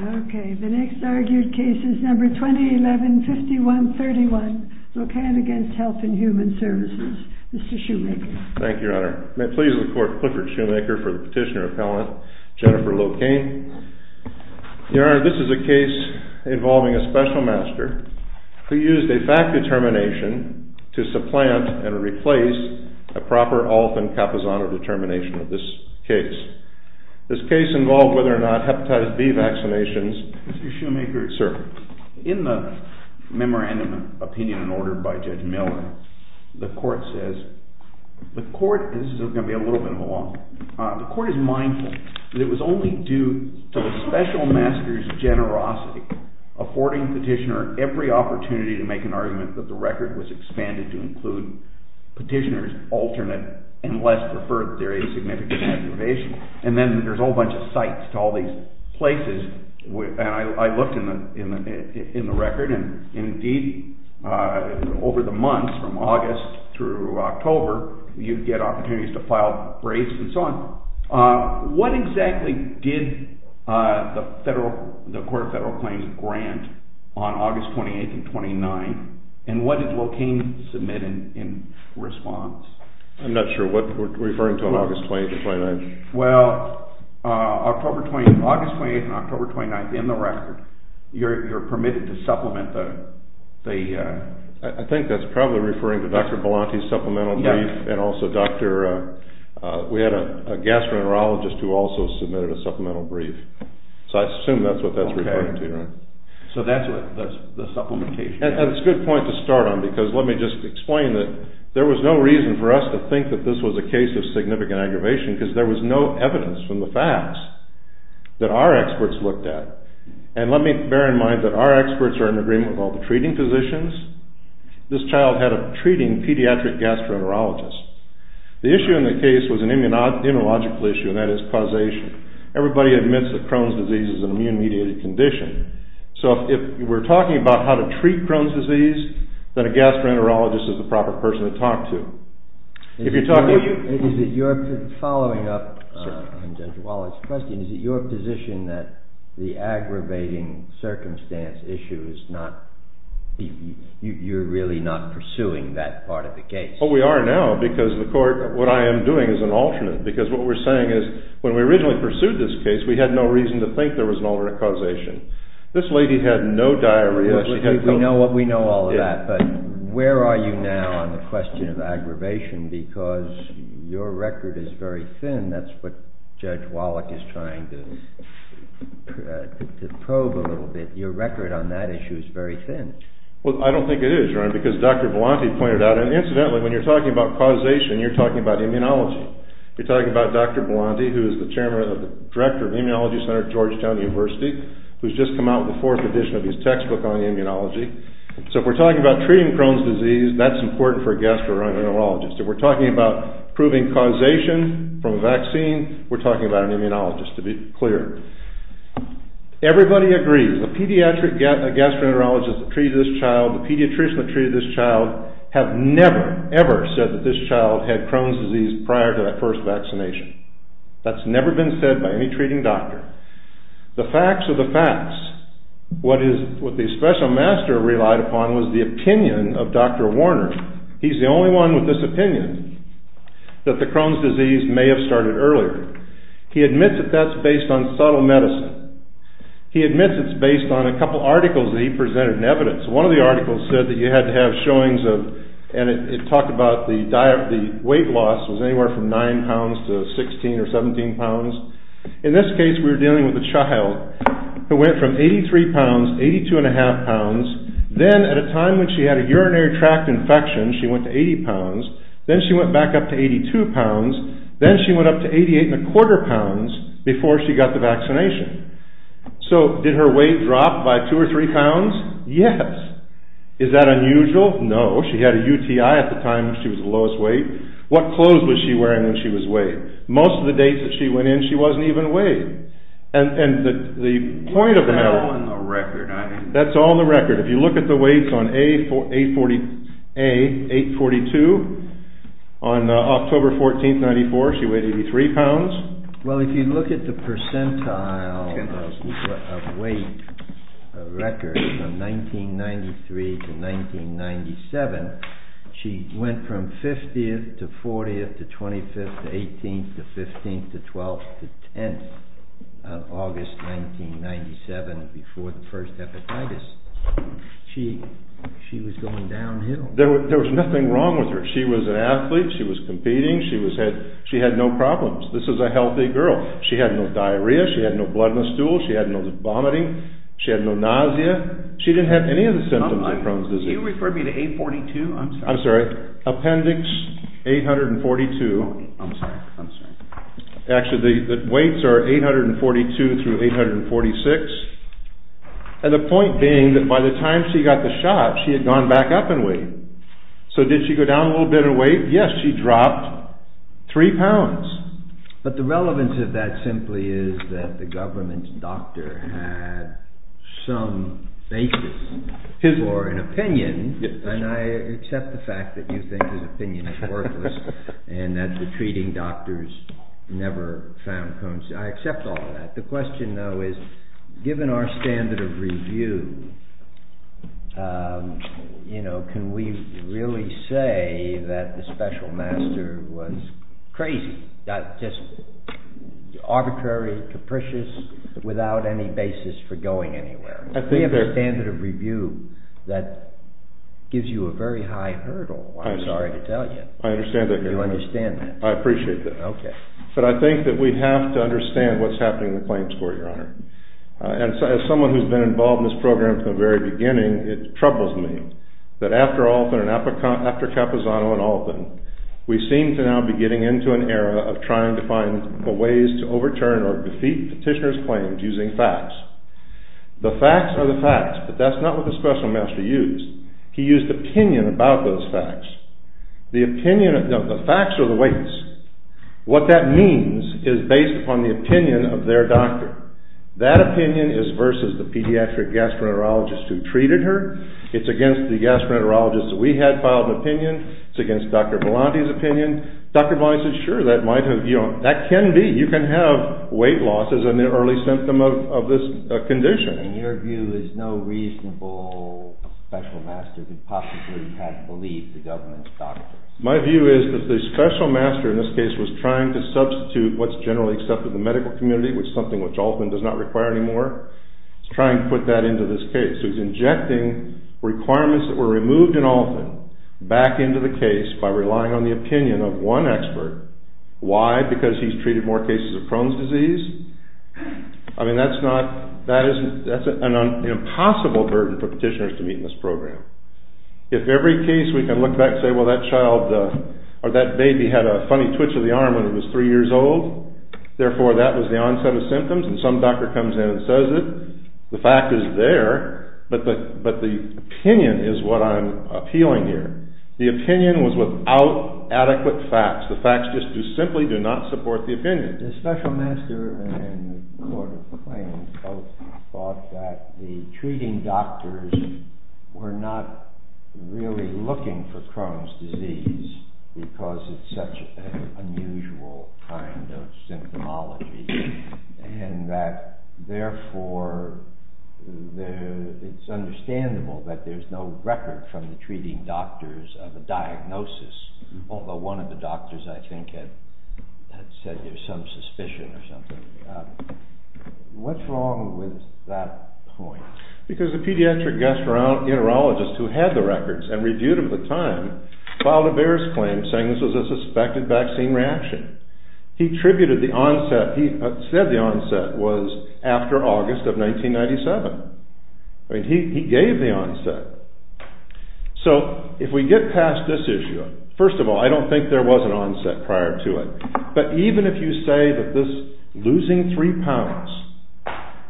The next argued case is No. 2011-5131, Locane v. Health and Human Services. Mr. Shoemaker. Thank you, Your Honor. May it please the Court, Clifford Shoemaker for the petitioner-appellant, Jennifer Locane. Your Honor, this is a case involving a special master who used a fact determination to supplant and replace a proper often capizano determination of this case. This case involved whether or not hepatitis B vaccinations- Mr. Shoemaker. Sir. In the memorandum of opinion and order by Judge Miller, the Court says-this is going to be a little bit of a long one-the Court is mindful that it was only due to the special master's generosity affording the petitioner every opportunity to make an argument that the record was expanded to include petitioners' alternate and less preferred theory of significant vaccination. And then there's a whole bunch of cites to all these places, and I looked in the record, and indeed, over the months from August through October, you'd get opportunities to file braids and so on. What exactly did the Court of Federal Claims grant on August 28th and 29th, and what did Locane submit in response? I'm not sure what we're referring to on August 28th and 29th. Well, August 28th and October 29th in the record, you're permitted to supplement the- I think that's probably referring to Dr. Belanti's supplemental brief and also Dr.-we had a gastroenterologist who also submitted a supplemental brief. So I assume that's what that's referring to, right? Okay. So that's what the supplementation- And it's a good point to start on because let me just explain that there was no reason for us to think that this was a case of significant aggravation because there was no evidence from the facts that our experts looked at. And let me bear in mind that our experts are in agreement with all the treating physicians. This child had a treating pediatric gastroenterologist. The issue in the case was an immunological issue, and that is causation. Everybody admits that Crohn's disease is an immune-mediated condition. So if we're talking about how to treat Crohn's disease, then a gastroenterologist is the proper person to talk to. Following up on Judge Wallace's question, is it your position that the aggravating circumstance issue is not-you're really not pursuing that part of the case? Well, we are now because the court-what I am doing is an alternate because what we're saying is when we originally pursued this case, we had no reason to think there was an alternate causation. This lady had no diarrhea. We know all of that, but where are you now on the question of aggravation? Because your record is very thin. That's what Judge Wallace is trying to probe a little bit. Your record on that issue is very thin. Well, I don't think it is, Your Honor, because Dr. Bilanti pointed out-and incidentally, when you're talking about causation, you're talking about immunology. You're talking about Dr. Bilanti, who is the director of the Immunology Center at Georgetown University, who's just come out with the fourth edition of his textbook on immunology. So if we're talking about treating Crohn's disease, that's important for a gastroenterologist. If we're talking about proving causation from a vaccine, we're talking about an immunologist, to be clear. Everybody agrees. The pediatric gastroenterologist that treated this child, the pediatrician that treated this child, have never, ever said that this child had Crohn's disease prior to that first vaccination. That's never been said by any treating doctor. The facts are the facts. What the special master relied upon was the opinion of Dr. Warner. He's the only one with this opinion, that the Crohn's disease may have started earlier. He admits that that's based on subtle medicine. He admits it's based on a couple articles that he presented in evidence. One of the articles said that you had to have showings of-and it talked about the weight loss was anywhere from 9 pounds to 16 or 17 pounds. In this case, we were dealing with a child who went from 83 pounds, 82 and a half pounds. Then, at a time when she had a urinary tract infection, she went to 80 pounds. Then she went back up to 82 pounds. Then she went up to 88 and a quarter pounds before she got the vaccination. So, did her weight drop by 2 or 3 pounds? Yes. Is that unusual? No. She had a UTI at the time when she was the lowest weight. What clothes was she wearing when she was weighed? Most of the dates that she went in, she wasn't even weighed. And the point of the matter- That's all on the record. That's all on the record. If you look at the weights on A842, on October 14, 1994, she weighed 83 pounds. Well, if you look at the percentile of weight records from 1993 to 1997, she went from 50th to 40th to 25th to 18th to 15th to 12th to 10th on August 1997, before the first hepatitis. She was going downhill. There was nothing wrong with her. She was an athlete. She was competing. She had no problems. This is a healthy girl. She had no diarrhea. She had no blood in the stool. She had no vomiting. She had no nausea. She didn't have any of the symptoms of Crohn's disease. Did you refer me to A842? I'm sorry. I'm sorry. Appendix 842. I'm sorry. I'm sorry. Actually, the weights are 842 through 846. And the point being that by the time she got the shot, she had gone back up in weight. So did she go down a little bit in weight? Yes, she dropped three pounds. But the relevance of that simply is that the government doctor had some basis for an opinion. And I accept the fact that you think his opinion is worthless and that the treating doctors never found Crohn's. I accept all of that. The question, though, is given our standard of review, can we really say that the special master was crazy, just arbitrary, capricious, without any basis for going anywhere? We have a standard of review that gives you a very high hurdle, I'm sorry to tell you. I understand that. You understand that? I appreciate that. Okay. But I think that we have to understand what's happening in the claims court, Your Honor. And as someone who's been involved in this program from the very beginning, it troubles me that after Alton and after Capozano and Alton, we seem to now be getting into an era of trying to find the ways to overturn or defeat petitioner's claims using facts. The facts are the facts, but that's not what the special master used. He used opinion about those facts. The facts are the weights. What that means is based upon the opinion of their doctor. That opinion is versus the pediatric gastroenterologist who treated her. It's against the gastroenterologist that we had filed an opinion. It's against Dr. Volante's opinion. Dr. Volante said, sure, that might have, you know, that can be. You can have weight loss as an early symptom of this condition. And your view is no reasonable special master could possibly have believed the government's doctor. My view is that the special master in this case was trying to substitute what's generally accepted in the medical community, which is something which Alton does not require anymore. He's trying to put that into this case. So he's injecting requirements that were removed in Alton back into the case by relying on the opinion of one expert. Why? Because he's treated more cases of Crohn's disease? I mean, that's not, that's an impossible burden for petitioners to meet in this program. If every case we can look back and say, well, that child or that baby had a funny twitch of the arm when it was three years old, therefore that was the onset of symptoms, and some doctor comes in and says it, the fact is there, but the opinion is what I'm appealing here. The opinion was without adequate facts. The special master and the court of claims both thought that the treating doctors were not really looking for Crohn's disease because it's such an unusual kind of symptomology. And that therefore it's understandable that there's no record from the treating doctors of a diagnosis, although one of the doctors I think had said there's some suspicion or something. What's wrong with that point? Because the pediatric gastroenterologist who had the records and reviewed them at the time filed a various claim saying this was a suspected vaccine reaction. He attributed the onset, he said the onset was after August of 1997. I mean, he gave the onset. So if we get past this issue, first of all, I don't think there was an onset prior to it, but even if you say that this losing three pounds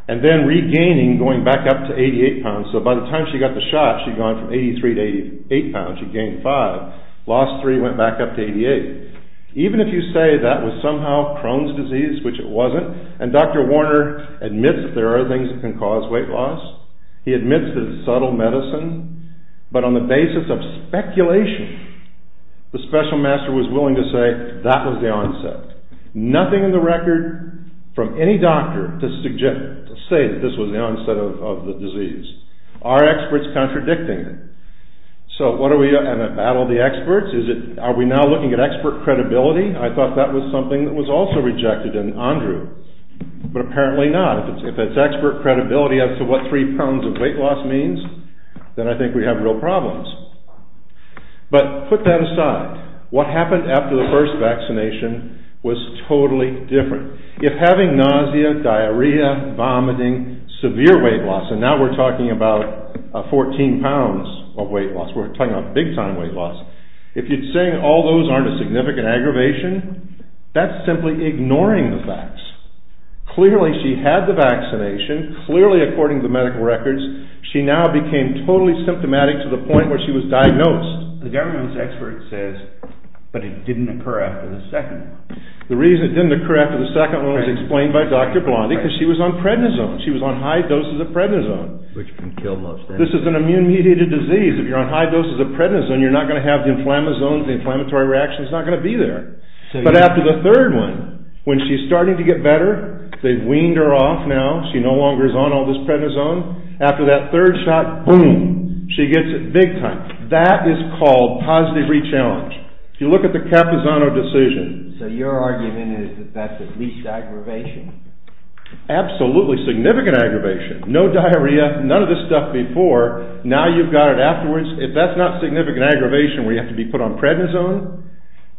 and then regaining, going back up to 88 pounds, so by the time she got the shot she'd gone from 83 to 88 pounds, she'd gained five, lost three, went back up to 88. Even if you say that was somehow Crohn's disease, which it wasn't, and Dr. Warner admits that there are things that can cause weight loss, he admits that it's subtle medicine, but on the basis of speculation, the special master was willing to say that was the onset. Nothing in the record from any doctor to say that this was the onset of the disease. Are experts contradicting it? So what are we at in the battle of the experts? Are we now looking at expert credibility? I thought that was something that was also rejected in Andrew, but apparently not. If it's expert credibility as to what three pounds of weight loss means, then I think we have real problems. But put that aside. What happened after the first vaccination was totally different. If having nausea, diarrhea, vomiting, severe weight loss, and now we're talking about 14 pounds of weight loss, we're talking about big-time weight loss, if you're saying all those aren't a significant aggravation, that's simply ignoring the facts. Clearly, she had the vaccination. Clearly, according to the medical records, she now became totally symptomatic to the point where she was diagnosed. The government's expert says, but it didn't occur after the second one. The reason it didn't occur after the second one was explained by Dr. Blondie, because she was on prednisone. She was on high doses of prednisone. Which can kill most anyone. This is an immune-mediated disease. If you're on high doses of prednisone, you're not going to have the inflammatory reactions. It's not going to be there. But after the third one, when she's starting to get better, they've weaned her off now. She no longer is on all this prednisone. After that third shot, boom, she gets it big-time. That is called positive re-challenge. If you look at the Capizano decision. So your argument is that that's at least aggravation? Absolutely significant aggravation. No diarrhea, none of this stuff before, now you've got it afterwards. If that's not significant aggravation where you have to be put on prednisone,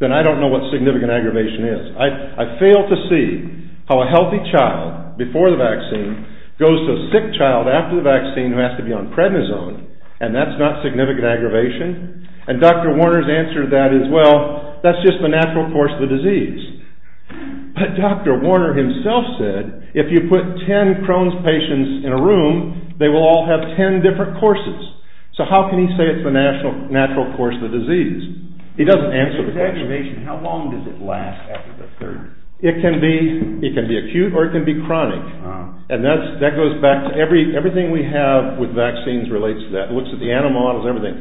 then I don't know what significant aggravation is. I fail to see how a healthy child, before the vaccine, goes to a sick child after the vaccine who has to be on prednisone, and that's not significant aggravation. And Dr. Warner's answer to that is, well, that's just the natural course of the disease. But Dr. Warner himself said, if you put ten Crohn's patients in a room, they will all have ten different courses. So how can he say it's the natural course of the disease? He doesn't answer the question. If it's aggravation, how long does it last after the third? It can be acute or it can be chronic. And that goes back to everything we have with vaccines relates to that. It looks at the animal models, everything.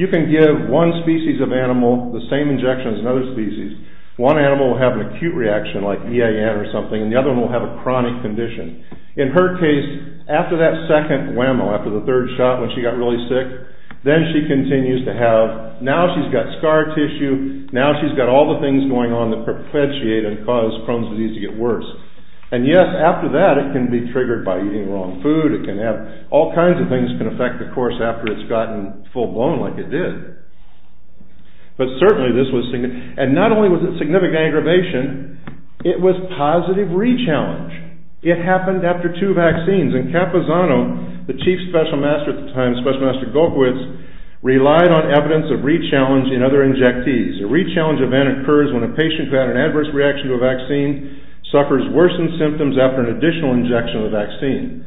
You can give one species of animal the same injection as another species. One animal will have an acute reaction like EAN or something, and the other one will have a chronic condition. In her case, after that second whammo, after the third shot when she got really sick, then she continues to have, now she's got scar tissue, now she's got all the things going on that perpetuate and cause Crohn's disease to get worse. And yes, after that, it can be triggered by eating wrong food, it can have all kinds of things can affect the course after it's gotten full-blown like it did. But certainly this was significant. And not only was it significant aggravation, it was positive re-challenge. It happened after two vaccines. And Capozano, the chief special master at the time, special master Golkiewicz, relied on evidence of re-challenge in other injectees. A re-challenge event occurs when a patient who had an adverse reaction to a vaccine suffers worsened symptoms after an additional injection of a vaccine.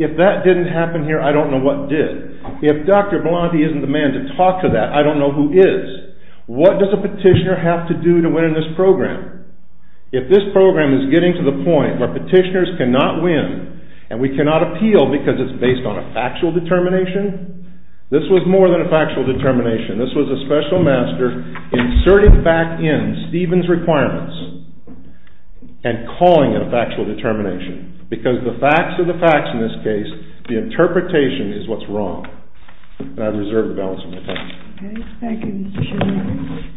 If that didn't happen here, I don't know what did. If Dr. Blonte isn't the man to talk to that, I don't know who is. What does a petitioner have to do to win in this program? If this program is getting to the point where petitioners cannot win and we cannot appeal because it's based on a factual determination, this was more than a factual determination. This was a special master inserting back in Stephen's requirements and calling it a factual determination because the facts are the facts in this case. The interpretation is what's wrong. And I reserve the balance of my time. Okay. Thank you, Mr. Chairman.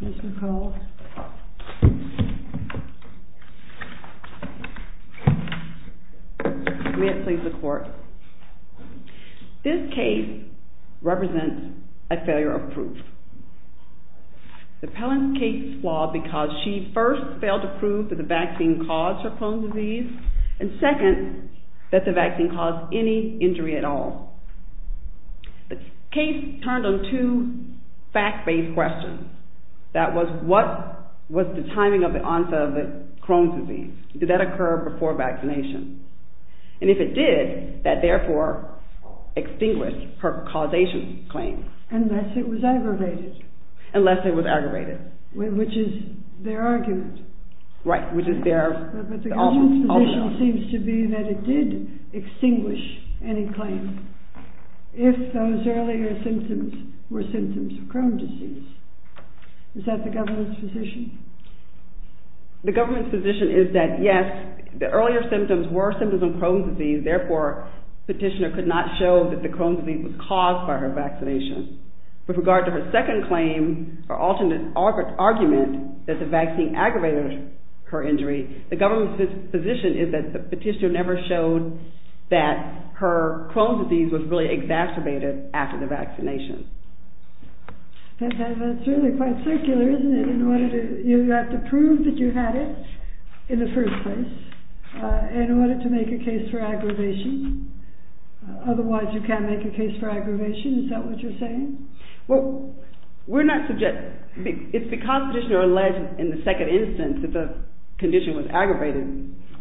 Ms. McCall. May it please the court. This case represents a failure of proof. The Pelham case flawed because she first failed to prove that the vaccine caused her bone disease and second, that the vaccine caused any injury at all. The case turned on two fact-based questions. That was, what was the timing of the onset of the Crohn's disease? Did that occur before vaccination? And if it did, that therefore extinguished her causation claim. Unless it was aggravated. Unless it was aggravated. Which is their argument. But the government's position seems to be that it did extinguish any claim if those earlier symptoms were symptoms of Crohn's disease. Is that the government's position? The government's position is that, yes, the earlier symptoms were symptoms of Crohn's disease. Therefore, petitioner could not show that the Crohn's disease was caused by her vaccination. With regard to her second claim, her alternate argument that the vaccine aggravated her injury, the government's position is that the petitioner never showed that her Crohn's disease was really exacerbated after the vaccination. That's really quite circular, isn't it? You have to prove that you had it in the first place in order to make a case for aggravation. Otherwise, you can't make a case for aggravation. Is that what you're saying? Well, we're not subject... It's because petitioner alleged in the second instance that the condition was aggravated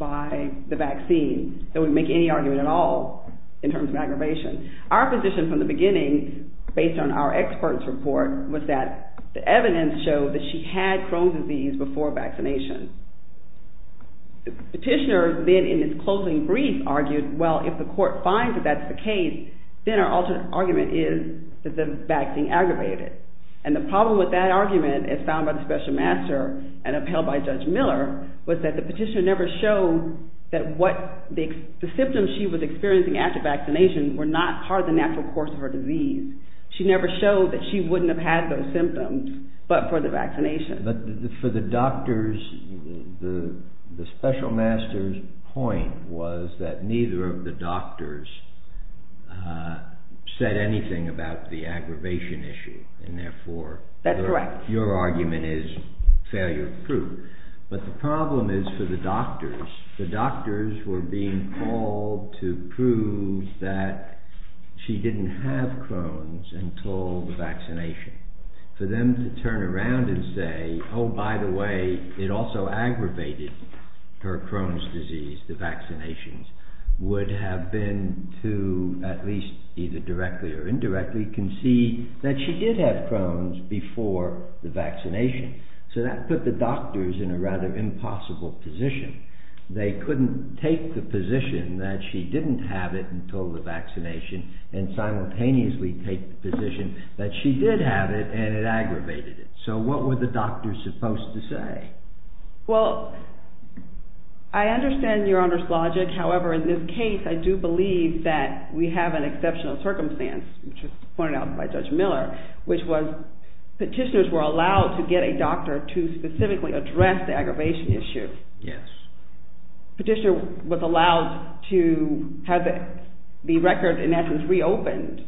by the vaccine that we make any argument at all in terms of aggravation. Our position from the beginning, based on our experts' report, was that the evidence showed that she had Crohn's disease before vaccination. Petitioner then, in his closing brief, argued, well, if the court finds that that's the case, then our alternate argument is that the vaccine aggravated it. And the problem with that argument, as found by the special master and upheld by Judge Miller, was that the petitioner never showed that the symptoms she was experiencing after vaccination were not part of the natural course of her disease. She never showed that she wouldn't have had those symptoms but for the vaccination. But for the doctors, the special master's point was that neither of the doctors said anything about the aggravation issue and therefore... That's correct. ...your argument is failure proof. But the problem is for the doctors. The doctors were being called to prove that she didn't have Crohn's until the vaccination. For them to turn around and say, oh, by the way, it also aggravated her Crohn's disease, the vaccinations, would have been to, at least either directly or indirectly, concede that she did have Crohn's before the vaccination. So that put the doctors in a rather impossible position. They couldn't take the position that she didn't have it until the vaccination and simultaneously take the position that she did have it and it aggravated it. So what were the doctors supposed to say? Well, I understand Your Honor's logic. However, in this case, I do believe that we have an exceptional circumstance, which was pointed out by Judge Miller, which was petitioners were allowed to get a doctor to specifically address the aggravation issue. Yes. Petitioner was allowed to have the record, in essence, reopened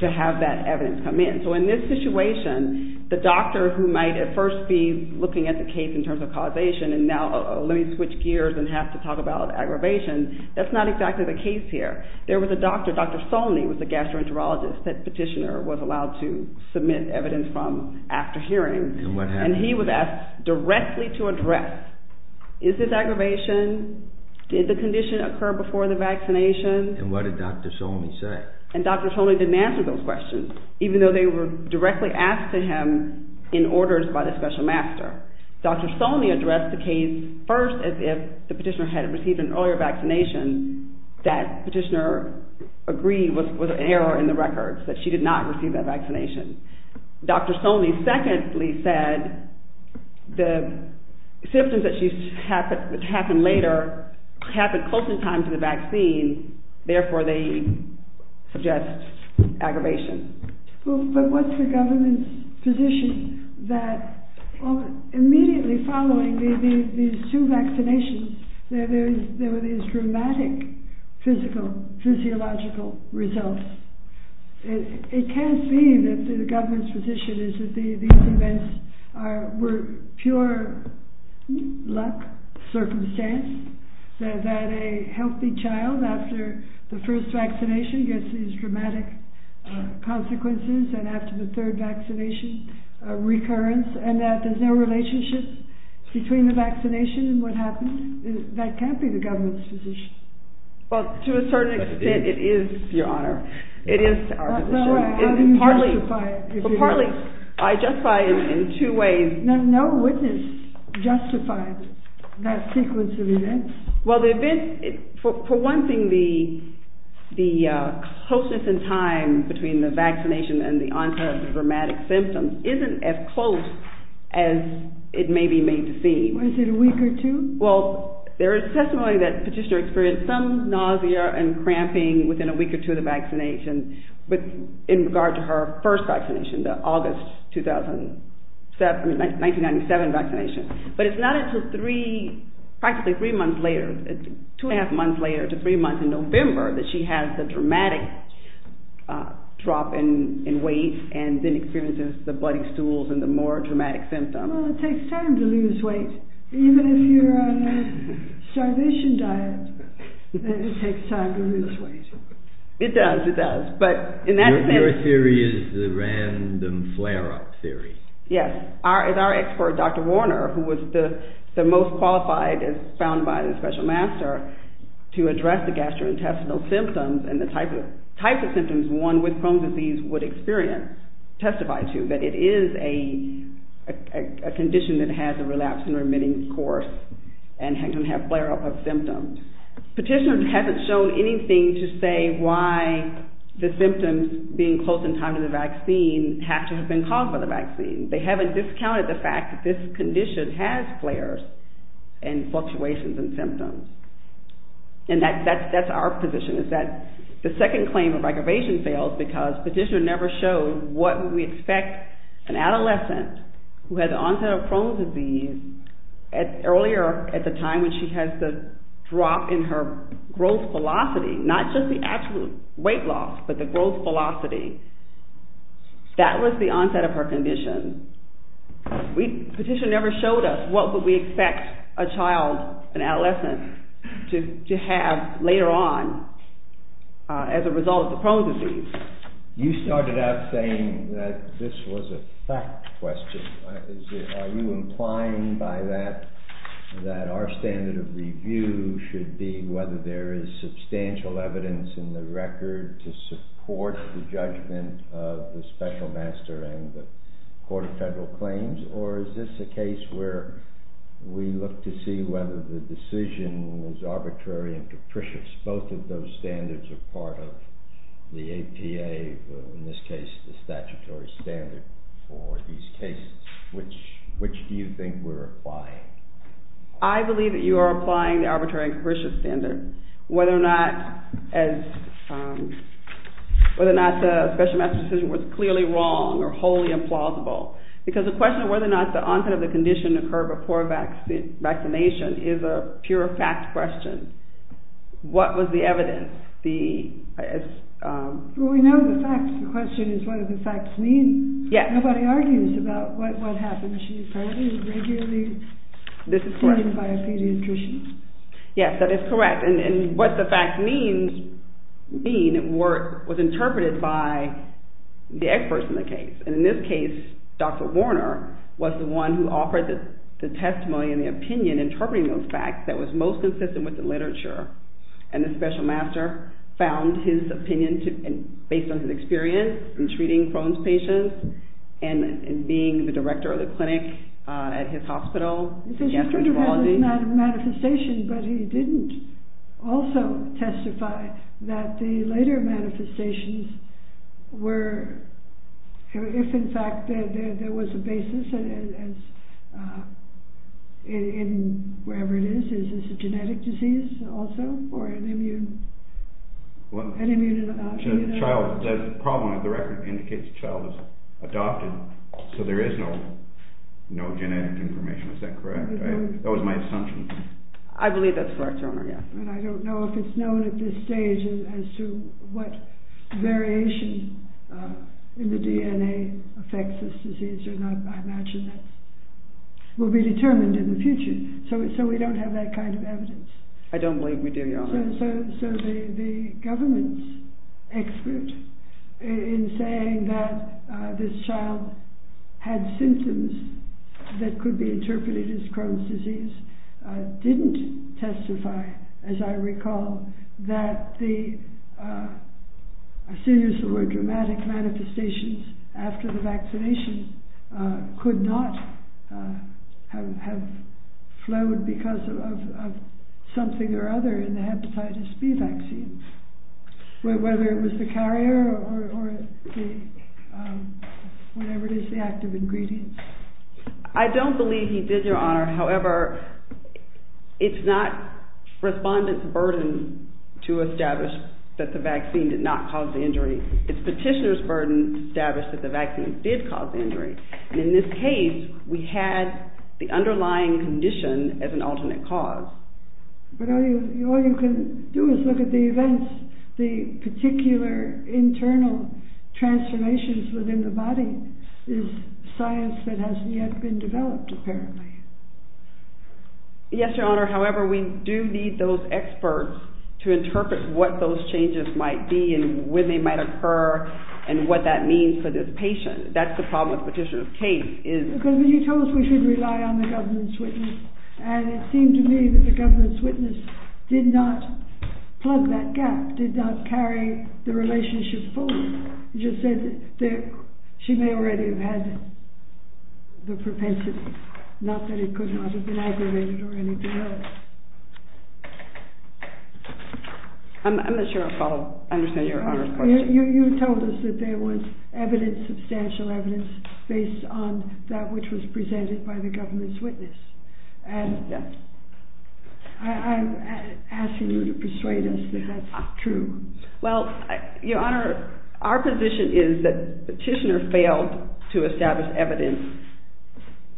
to have that evidence come in. So in this situation, the doctor who might at first be looking at the case in terms of causation, and now let me switch gears and have to talk about aggravation, that's not exactly the case here. There was a doctor, Dr. Solney, who was a gastroenterologist, that petitioner was allowed to submit evidence from after hearing. And what happened? And he was asked directly to address, is this aggravation? Did the condition occur before the vaccination? And what did Dr. Solney say? And Dr. Solney didn't answer those questions, even though they were directly asked to him in orders by the special master. Dr. Solney addressed the case first as if the petitioner had received an earlier vaccination that petitioner agreed was an error in the records, that she did not receive that vaccination. Dr. Solney secondly said the symptoms that happened later happened close in time to the vaccine, therefore they suggest aggravation. But what's the government's position that immediately following these two vaccinations, there were these dramatic physiological results? It can't be that the government's position is that these events were pure luck, circumstance, that a healthy child after the first vaccination gets these dramatic consequences and after the third vaccination, recurrence, and that there's no relationship between the vaccination and what happens? That can't be the government's position. Well, to a certain extent, it is, Your Honor. It is our position. How do you justify it? I justify it in two ways. No witness justified that sequence of events. Well, the events, for one thing, the closeness in time between the vaccination and the onset of the dramatic symptoms isn't as close as it may be made to seem. Within a week or two? Well, there is testimony that Petitioner experienced some nausea and cramping within a week or two of the vaccination, but in regard to her first vaccination, the August 1997 vaccination. But it's not until three, practically three months later, two and a half months later to three months in November that she has the dramatic drop in weight and then experiences the bloody stools and the more dramatic symptoms. Well, it takes time to lose weight. Even if you're on a starvation diet, it takes time to lose weight. It does, it does. Your theory is the random flare-up theory. Yes. It's our expert, Dr. Warner, who was the most qualified, as found by the special master, to address the gastrointestinal symptoms and the type of symptoms one with Crohn's disease would experience, testify to, that it is a condition that has a relapsing, remitting course and can have flare-up of symptoms. Petitioner hasn't shown anything to say why the symptoms being close in time to the vaccine have to have been caused by the vaccine. They haven't discounted the fact that this condition has flares and fluctuations in symptoms. And that's our position, is that the second claim of aggravation fails because Petitioner never showed what we expect an adolescent who has onset of Crohn's disease earlier at the time when she has the drop in her growth velocity, not just the absolute weight loss, but the growth velocity. That was the onset of her condition. Petitioner never showed us what would we expect a child, an adolescent, to have later on as a result of the Crohn's disease. You started out saying that this was a fact question. Are you implying by that that our standard of review should be whether there is substantial evidence in the record to support the judgment of the special master and the Court of Federal Claims, or is this a case where we look to see whether the decision is arbitrary and capricious? Both of those standards are part of the APA, in this case the statutory standard for these cases. Which do you think we're applying? I believe that you are applying the arbitrary and capricious standard, whether or not the special master's decision was clearly wrong or wholly implausible. Because the question of whether or not the onset of the condition occurred before vaccination is a pure fact question. What was the evidence? Well, we know the facts. The question is what do the facts mean? Nobody argues about what happened. She was treated regularly. This is correct. Treated by a pediatrician. Yes, that is correct. And what the facts mean was interpreted by the experts in the case. And in this case, Dr. Warner was the one who offered the testimony and the opinion interpreting those facts that was most consistent with the literature. And the special master found his opinion based on his experience in treating Crohn's patients and being the director of the clinic at his hospital in gastroenterology. But he didn't also testify that the later manifestations were, if in fact there was a basis in wherever it is, is this a genetic disease also or an immune? The problem of the record indicates the child was adopted. So there is no genetic information. Is that correct? That was my assumption. I believe that's correct, Dr. Warner. And I don't know if it's known at this stage as to what variation in the DNA affects this disease or not. I imagine that will be determined in the future. So we don't have that kind of evidence. I don't believe we do, Your Honor. So the government's expert in saying that this child had symptoms that could be interpreted as Crohn's disease didn't testify, as I recall, that a series of more dramatic manifestations after the vaccination could not have flowed because of something or other in the hepatitis B vaccine, whether it was the carrier or whatever it is, the active ingredients. I don't believe he did, Your Honor. However, it's not respondents' burden to establish that the vaccine did not cause the injury. It's petitioners' burden to establish that the vaccine did cause the injury. And in this case, we had the underlying condition as an alternate cause. But all you can do is look at the events. The particular internal transformations within the body is science that hasn't yet been developed, apparently. Yes, Your Honor. However, we do need those experts to interpret what those changes might be and when they might occur and what that means for this patient. That's the problem with the petitioner's case. Because you told us we should rely on the government's witness. And it seemed to me that the government's witness did not plug that gap, did not carry the relationship forward. You just said that she may already have had the propensity, not that it could not have been aggravated or anything like that. I'm not sure I understand Your Honor's question. You told us that there was evidence, substantial evidence, based on that which was presented by the government's witness. And I'm asking you to persuade us that that's true. Well, Your Honor, our position is that the petitioner failed to establish evidence,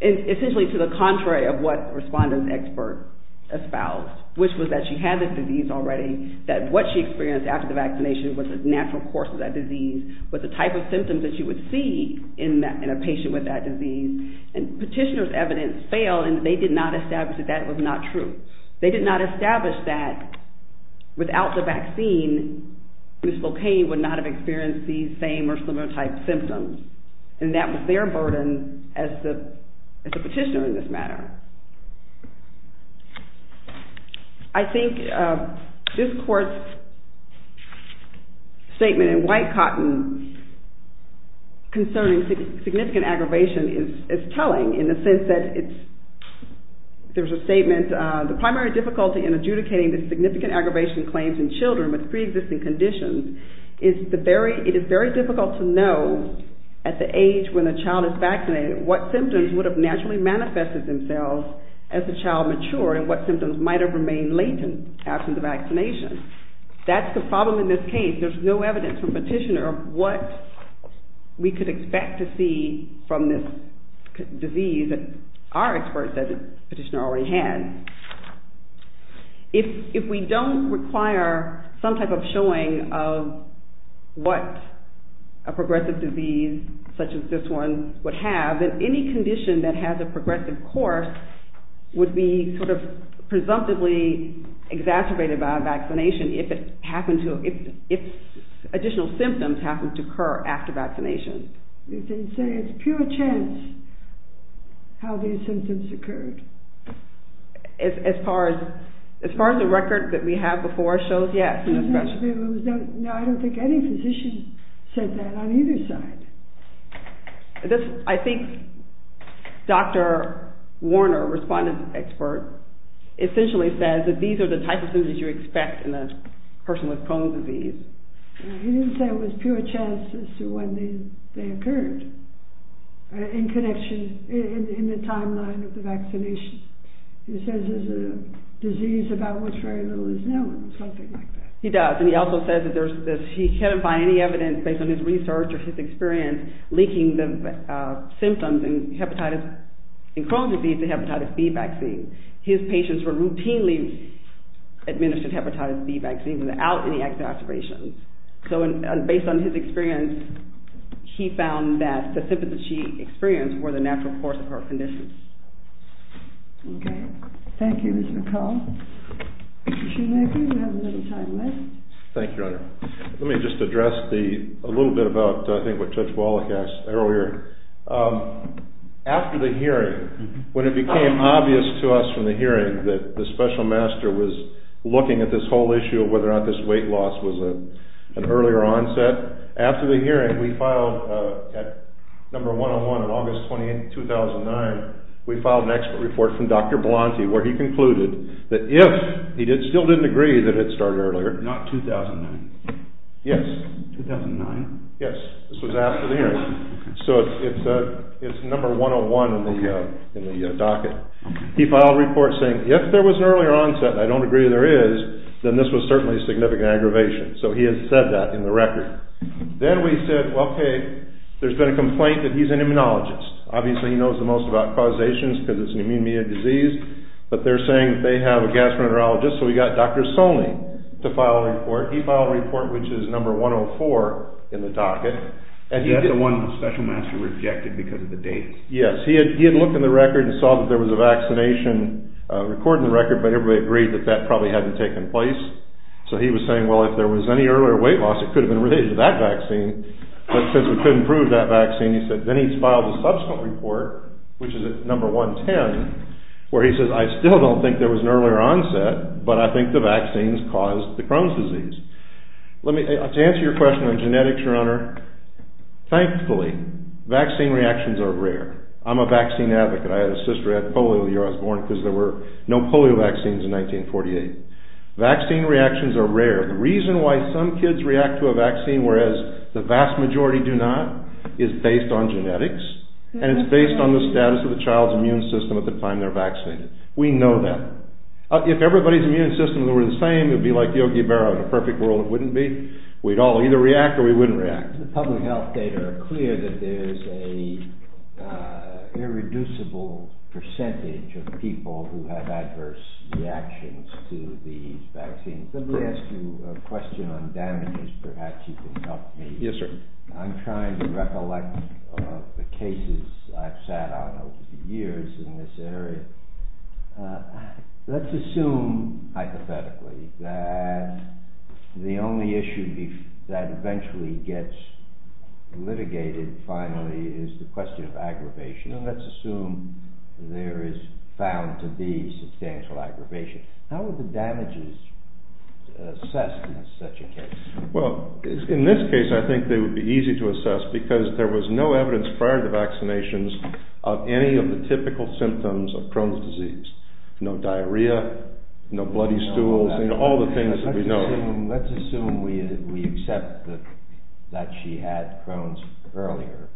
essentially to the contrary of what the respondent's expert espoused, which was that she had this disease already, that what she experienced after the vaccination was the natural course of that disease, was the type of symptoms that you would see in a patient with that disease. And petitioner's evidence failed, and they did not establish that that was not true. They did not establish that without the vaccine, Ms. Locaine would not have experienced these same or similar type symptoms. And that was their burden as the petitioner in this matter. I think this court's statement in white cotton concerning significant aggravation is telling in the sense that there's a statement, the primary difficulty in adjudicating the significant aggravation claims in children with pre-existing conditions is it is very difficult to know at the age when the child is vaccinated what symptoms would have naturally manifested themselves as the child matured, and what symptoms might have remained latent after the vaccination. That's the problem in this case. There's no evidence from petitioner of what we could expect to see from this disease that our experts at the petitioner already had. If we don't require some type of showing of what a progressive disease such as this one would have, then any condition that has a progressive course would be sort of presumptively exacerbated by a vaccination if additional symptoms happen to occur after vaccination. You can say it's pure chance how these symptoms occurred. As far as the record that we have before us shows, yes. No, I don't think any physician said that on either side. I think Dr. Warner, respondent expert, essentially says that these are the type of symptoms you expect in a person with Crohn's disease. He didn't say it was pure chance as to when they occurred in the timeline of the vaccination. He says it's a disease about which very little is known, something like that. He does, and he also says that he can't find any evidence based on his research or his experience linking the symptoms in Crohn's disease to hepatitis B vaccine. His patients were routinely administered hepatitis B vaccine without any exacerbation. So based on his experience, he found that the symptoms that she experienced were the natural course of her conditions. Okay. Thank you, Ms. McCall. Mr. Shoemaker, you have a little time left. Thank you, Your Honor. Let me just address a little bit about, I think, what Judge Wallach asked earlier. After the hearing, when it became obvious to us from the hearing that the special master was looking at this whole issue of whether or not this weight loss was an earlier onset, after the hearing, we filed at number 101 on August 28, 2009, we filed an expert report from Dr. Blonte where he concluded that if he still didn't agree that it started earlier... Not 2009. Yes. 2009? Yes. This was after the hearing. So it's number 101 in the docket. He filed a report saying if there was an earlier onset, and I don't agree there is, then this was certainly a significant aggravation. So he has said that in the record. Then we said, okay, there's been a complaint that he's an immunologist. Obviously he knows the most about causations because it's an immune-mediated disease, but they're saying they have a gastroenterologist, so we got Dr. Solney to file a report. He filed a report which is number 104 in the docket. And that's the one the special master rejected because of the date. Yes. He had looked in the record and saw that there was a vaccination record in the record, but everybody agreed that that probably hadn't taken place. So he was saying, well, if there was any earlier weight loss, it could have been related to that vaccine. But since we couldn't prove that vaccine, he said, then he's filed a subsequent report, which is at number 110, where he says, I still don't think there was an earlier onset, but I think the vaccines caused the Crohn's disease. To answer your question on genetics, Your Honor, thankfully, vaccine reactions are rare. I'm a vaccine advocate. I had a sister who had polio the year I was born because there were no polio vaccines in 1948. Vaccine reactions are rare. The reason why some kids react to a vaccine whereas the vast majority do not is based on genetics, and it's based on the status of the child's immune system at the time they're vaccinated. We know that. If everybody's immune system were the same, it would be like Yogi Berra. In a perfect world, it wouldn't be. We'd all either react or we wouldn't react. The public health data are clear that there's an irreducible percentage of people who have adverse reactions to these vaccines. Let me ask you a question on damages. Perhaps you can help me. Yes, sir. I'm trying to recollect the cases I've sat on over the years in this area. Let's assume, hypothetically, that the only issue that eventually gets litigated, finally, is the question of aggravation. Let's assume there is found to be substantial aggravation. How are the damages assessed in such a case? In this case, I think they would be easy to assess because there was no evidence prior to vaccinations of any of the typical symptoms of Crohn's disease. No diarrhea, no bloody stools, all the things that we know. Let's assume we accept that she had Crohn's earlier,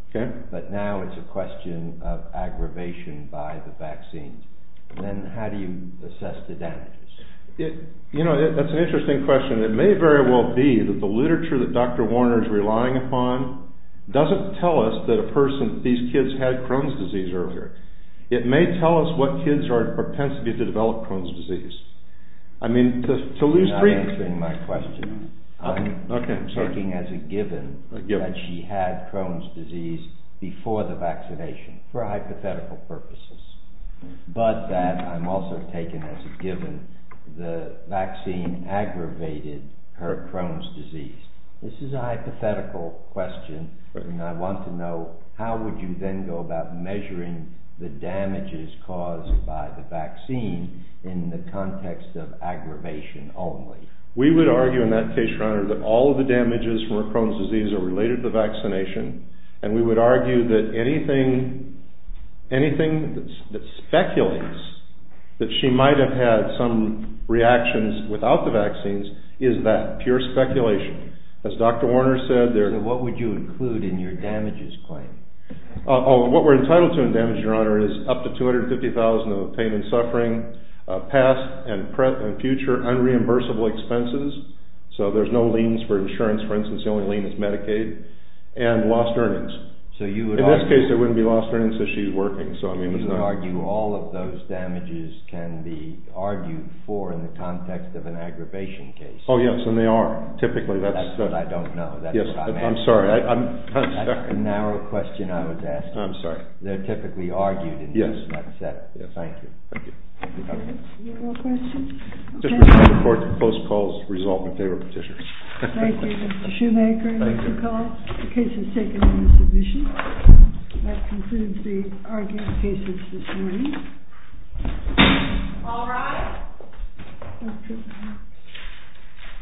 but now it's a question of aggravation by the vaccine. Then how do you assess the damages? You know, that's an interesting question. It may very well be that the literature that Dr. Warner is relying upon doesn't tell us that a person, these kids, had Crohn's disease earlier. It may tell us what kids are at a propensity to develop Crohn's disease. I mean, to lose... You're not answering my question. I'm taking as a given that she had Crohn's disease before the vaccination for hypothetical purposes, but that I'm also taking as a given the vaccine aggravated her Crohn's disease. This is a hypothetical question, and I want to know how would you then go about measuring the damages caused by the vaccine in the context of aggravation only? We would argue in that case, Your Honor, that all of the damages from her Crohn's disease are related to the vaccination, and we would argue that anything that speculates that she might have had some reactions without the vaccines is that pure speculation. As Dr. Warner said, there... What would you include in your damages claim? Oh, what we're entitled to in damages, Your Honor, is up to $250,000 of payment suffering, past and future unreimbursable expenses, so there's no liens for insurance. For instance, the only lien is Medicaid, and lost earnings. So you would argue... In this case, there wouldn't be lost earnings if she's working, so I mean... You would argue all of those damages can be argued for in the context of an aggravation case. Oh, yes, and they are. Typically, that's... That's what I don't know. That's what I'm asking. Yes, I'm sorry. That's a narrow question I was asking. I'm sorry. They're typically argued in cases like that. Yes. Thank you. Thank you. Okay. Any other questions? Okay. I look forward to post-call's result in favor of petitioners. Thank you, Mr. Shoemaker. Thank you. The case is taken into submission. That concludes the argument cases this morning. All rise.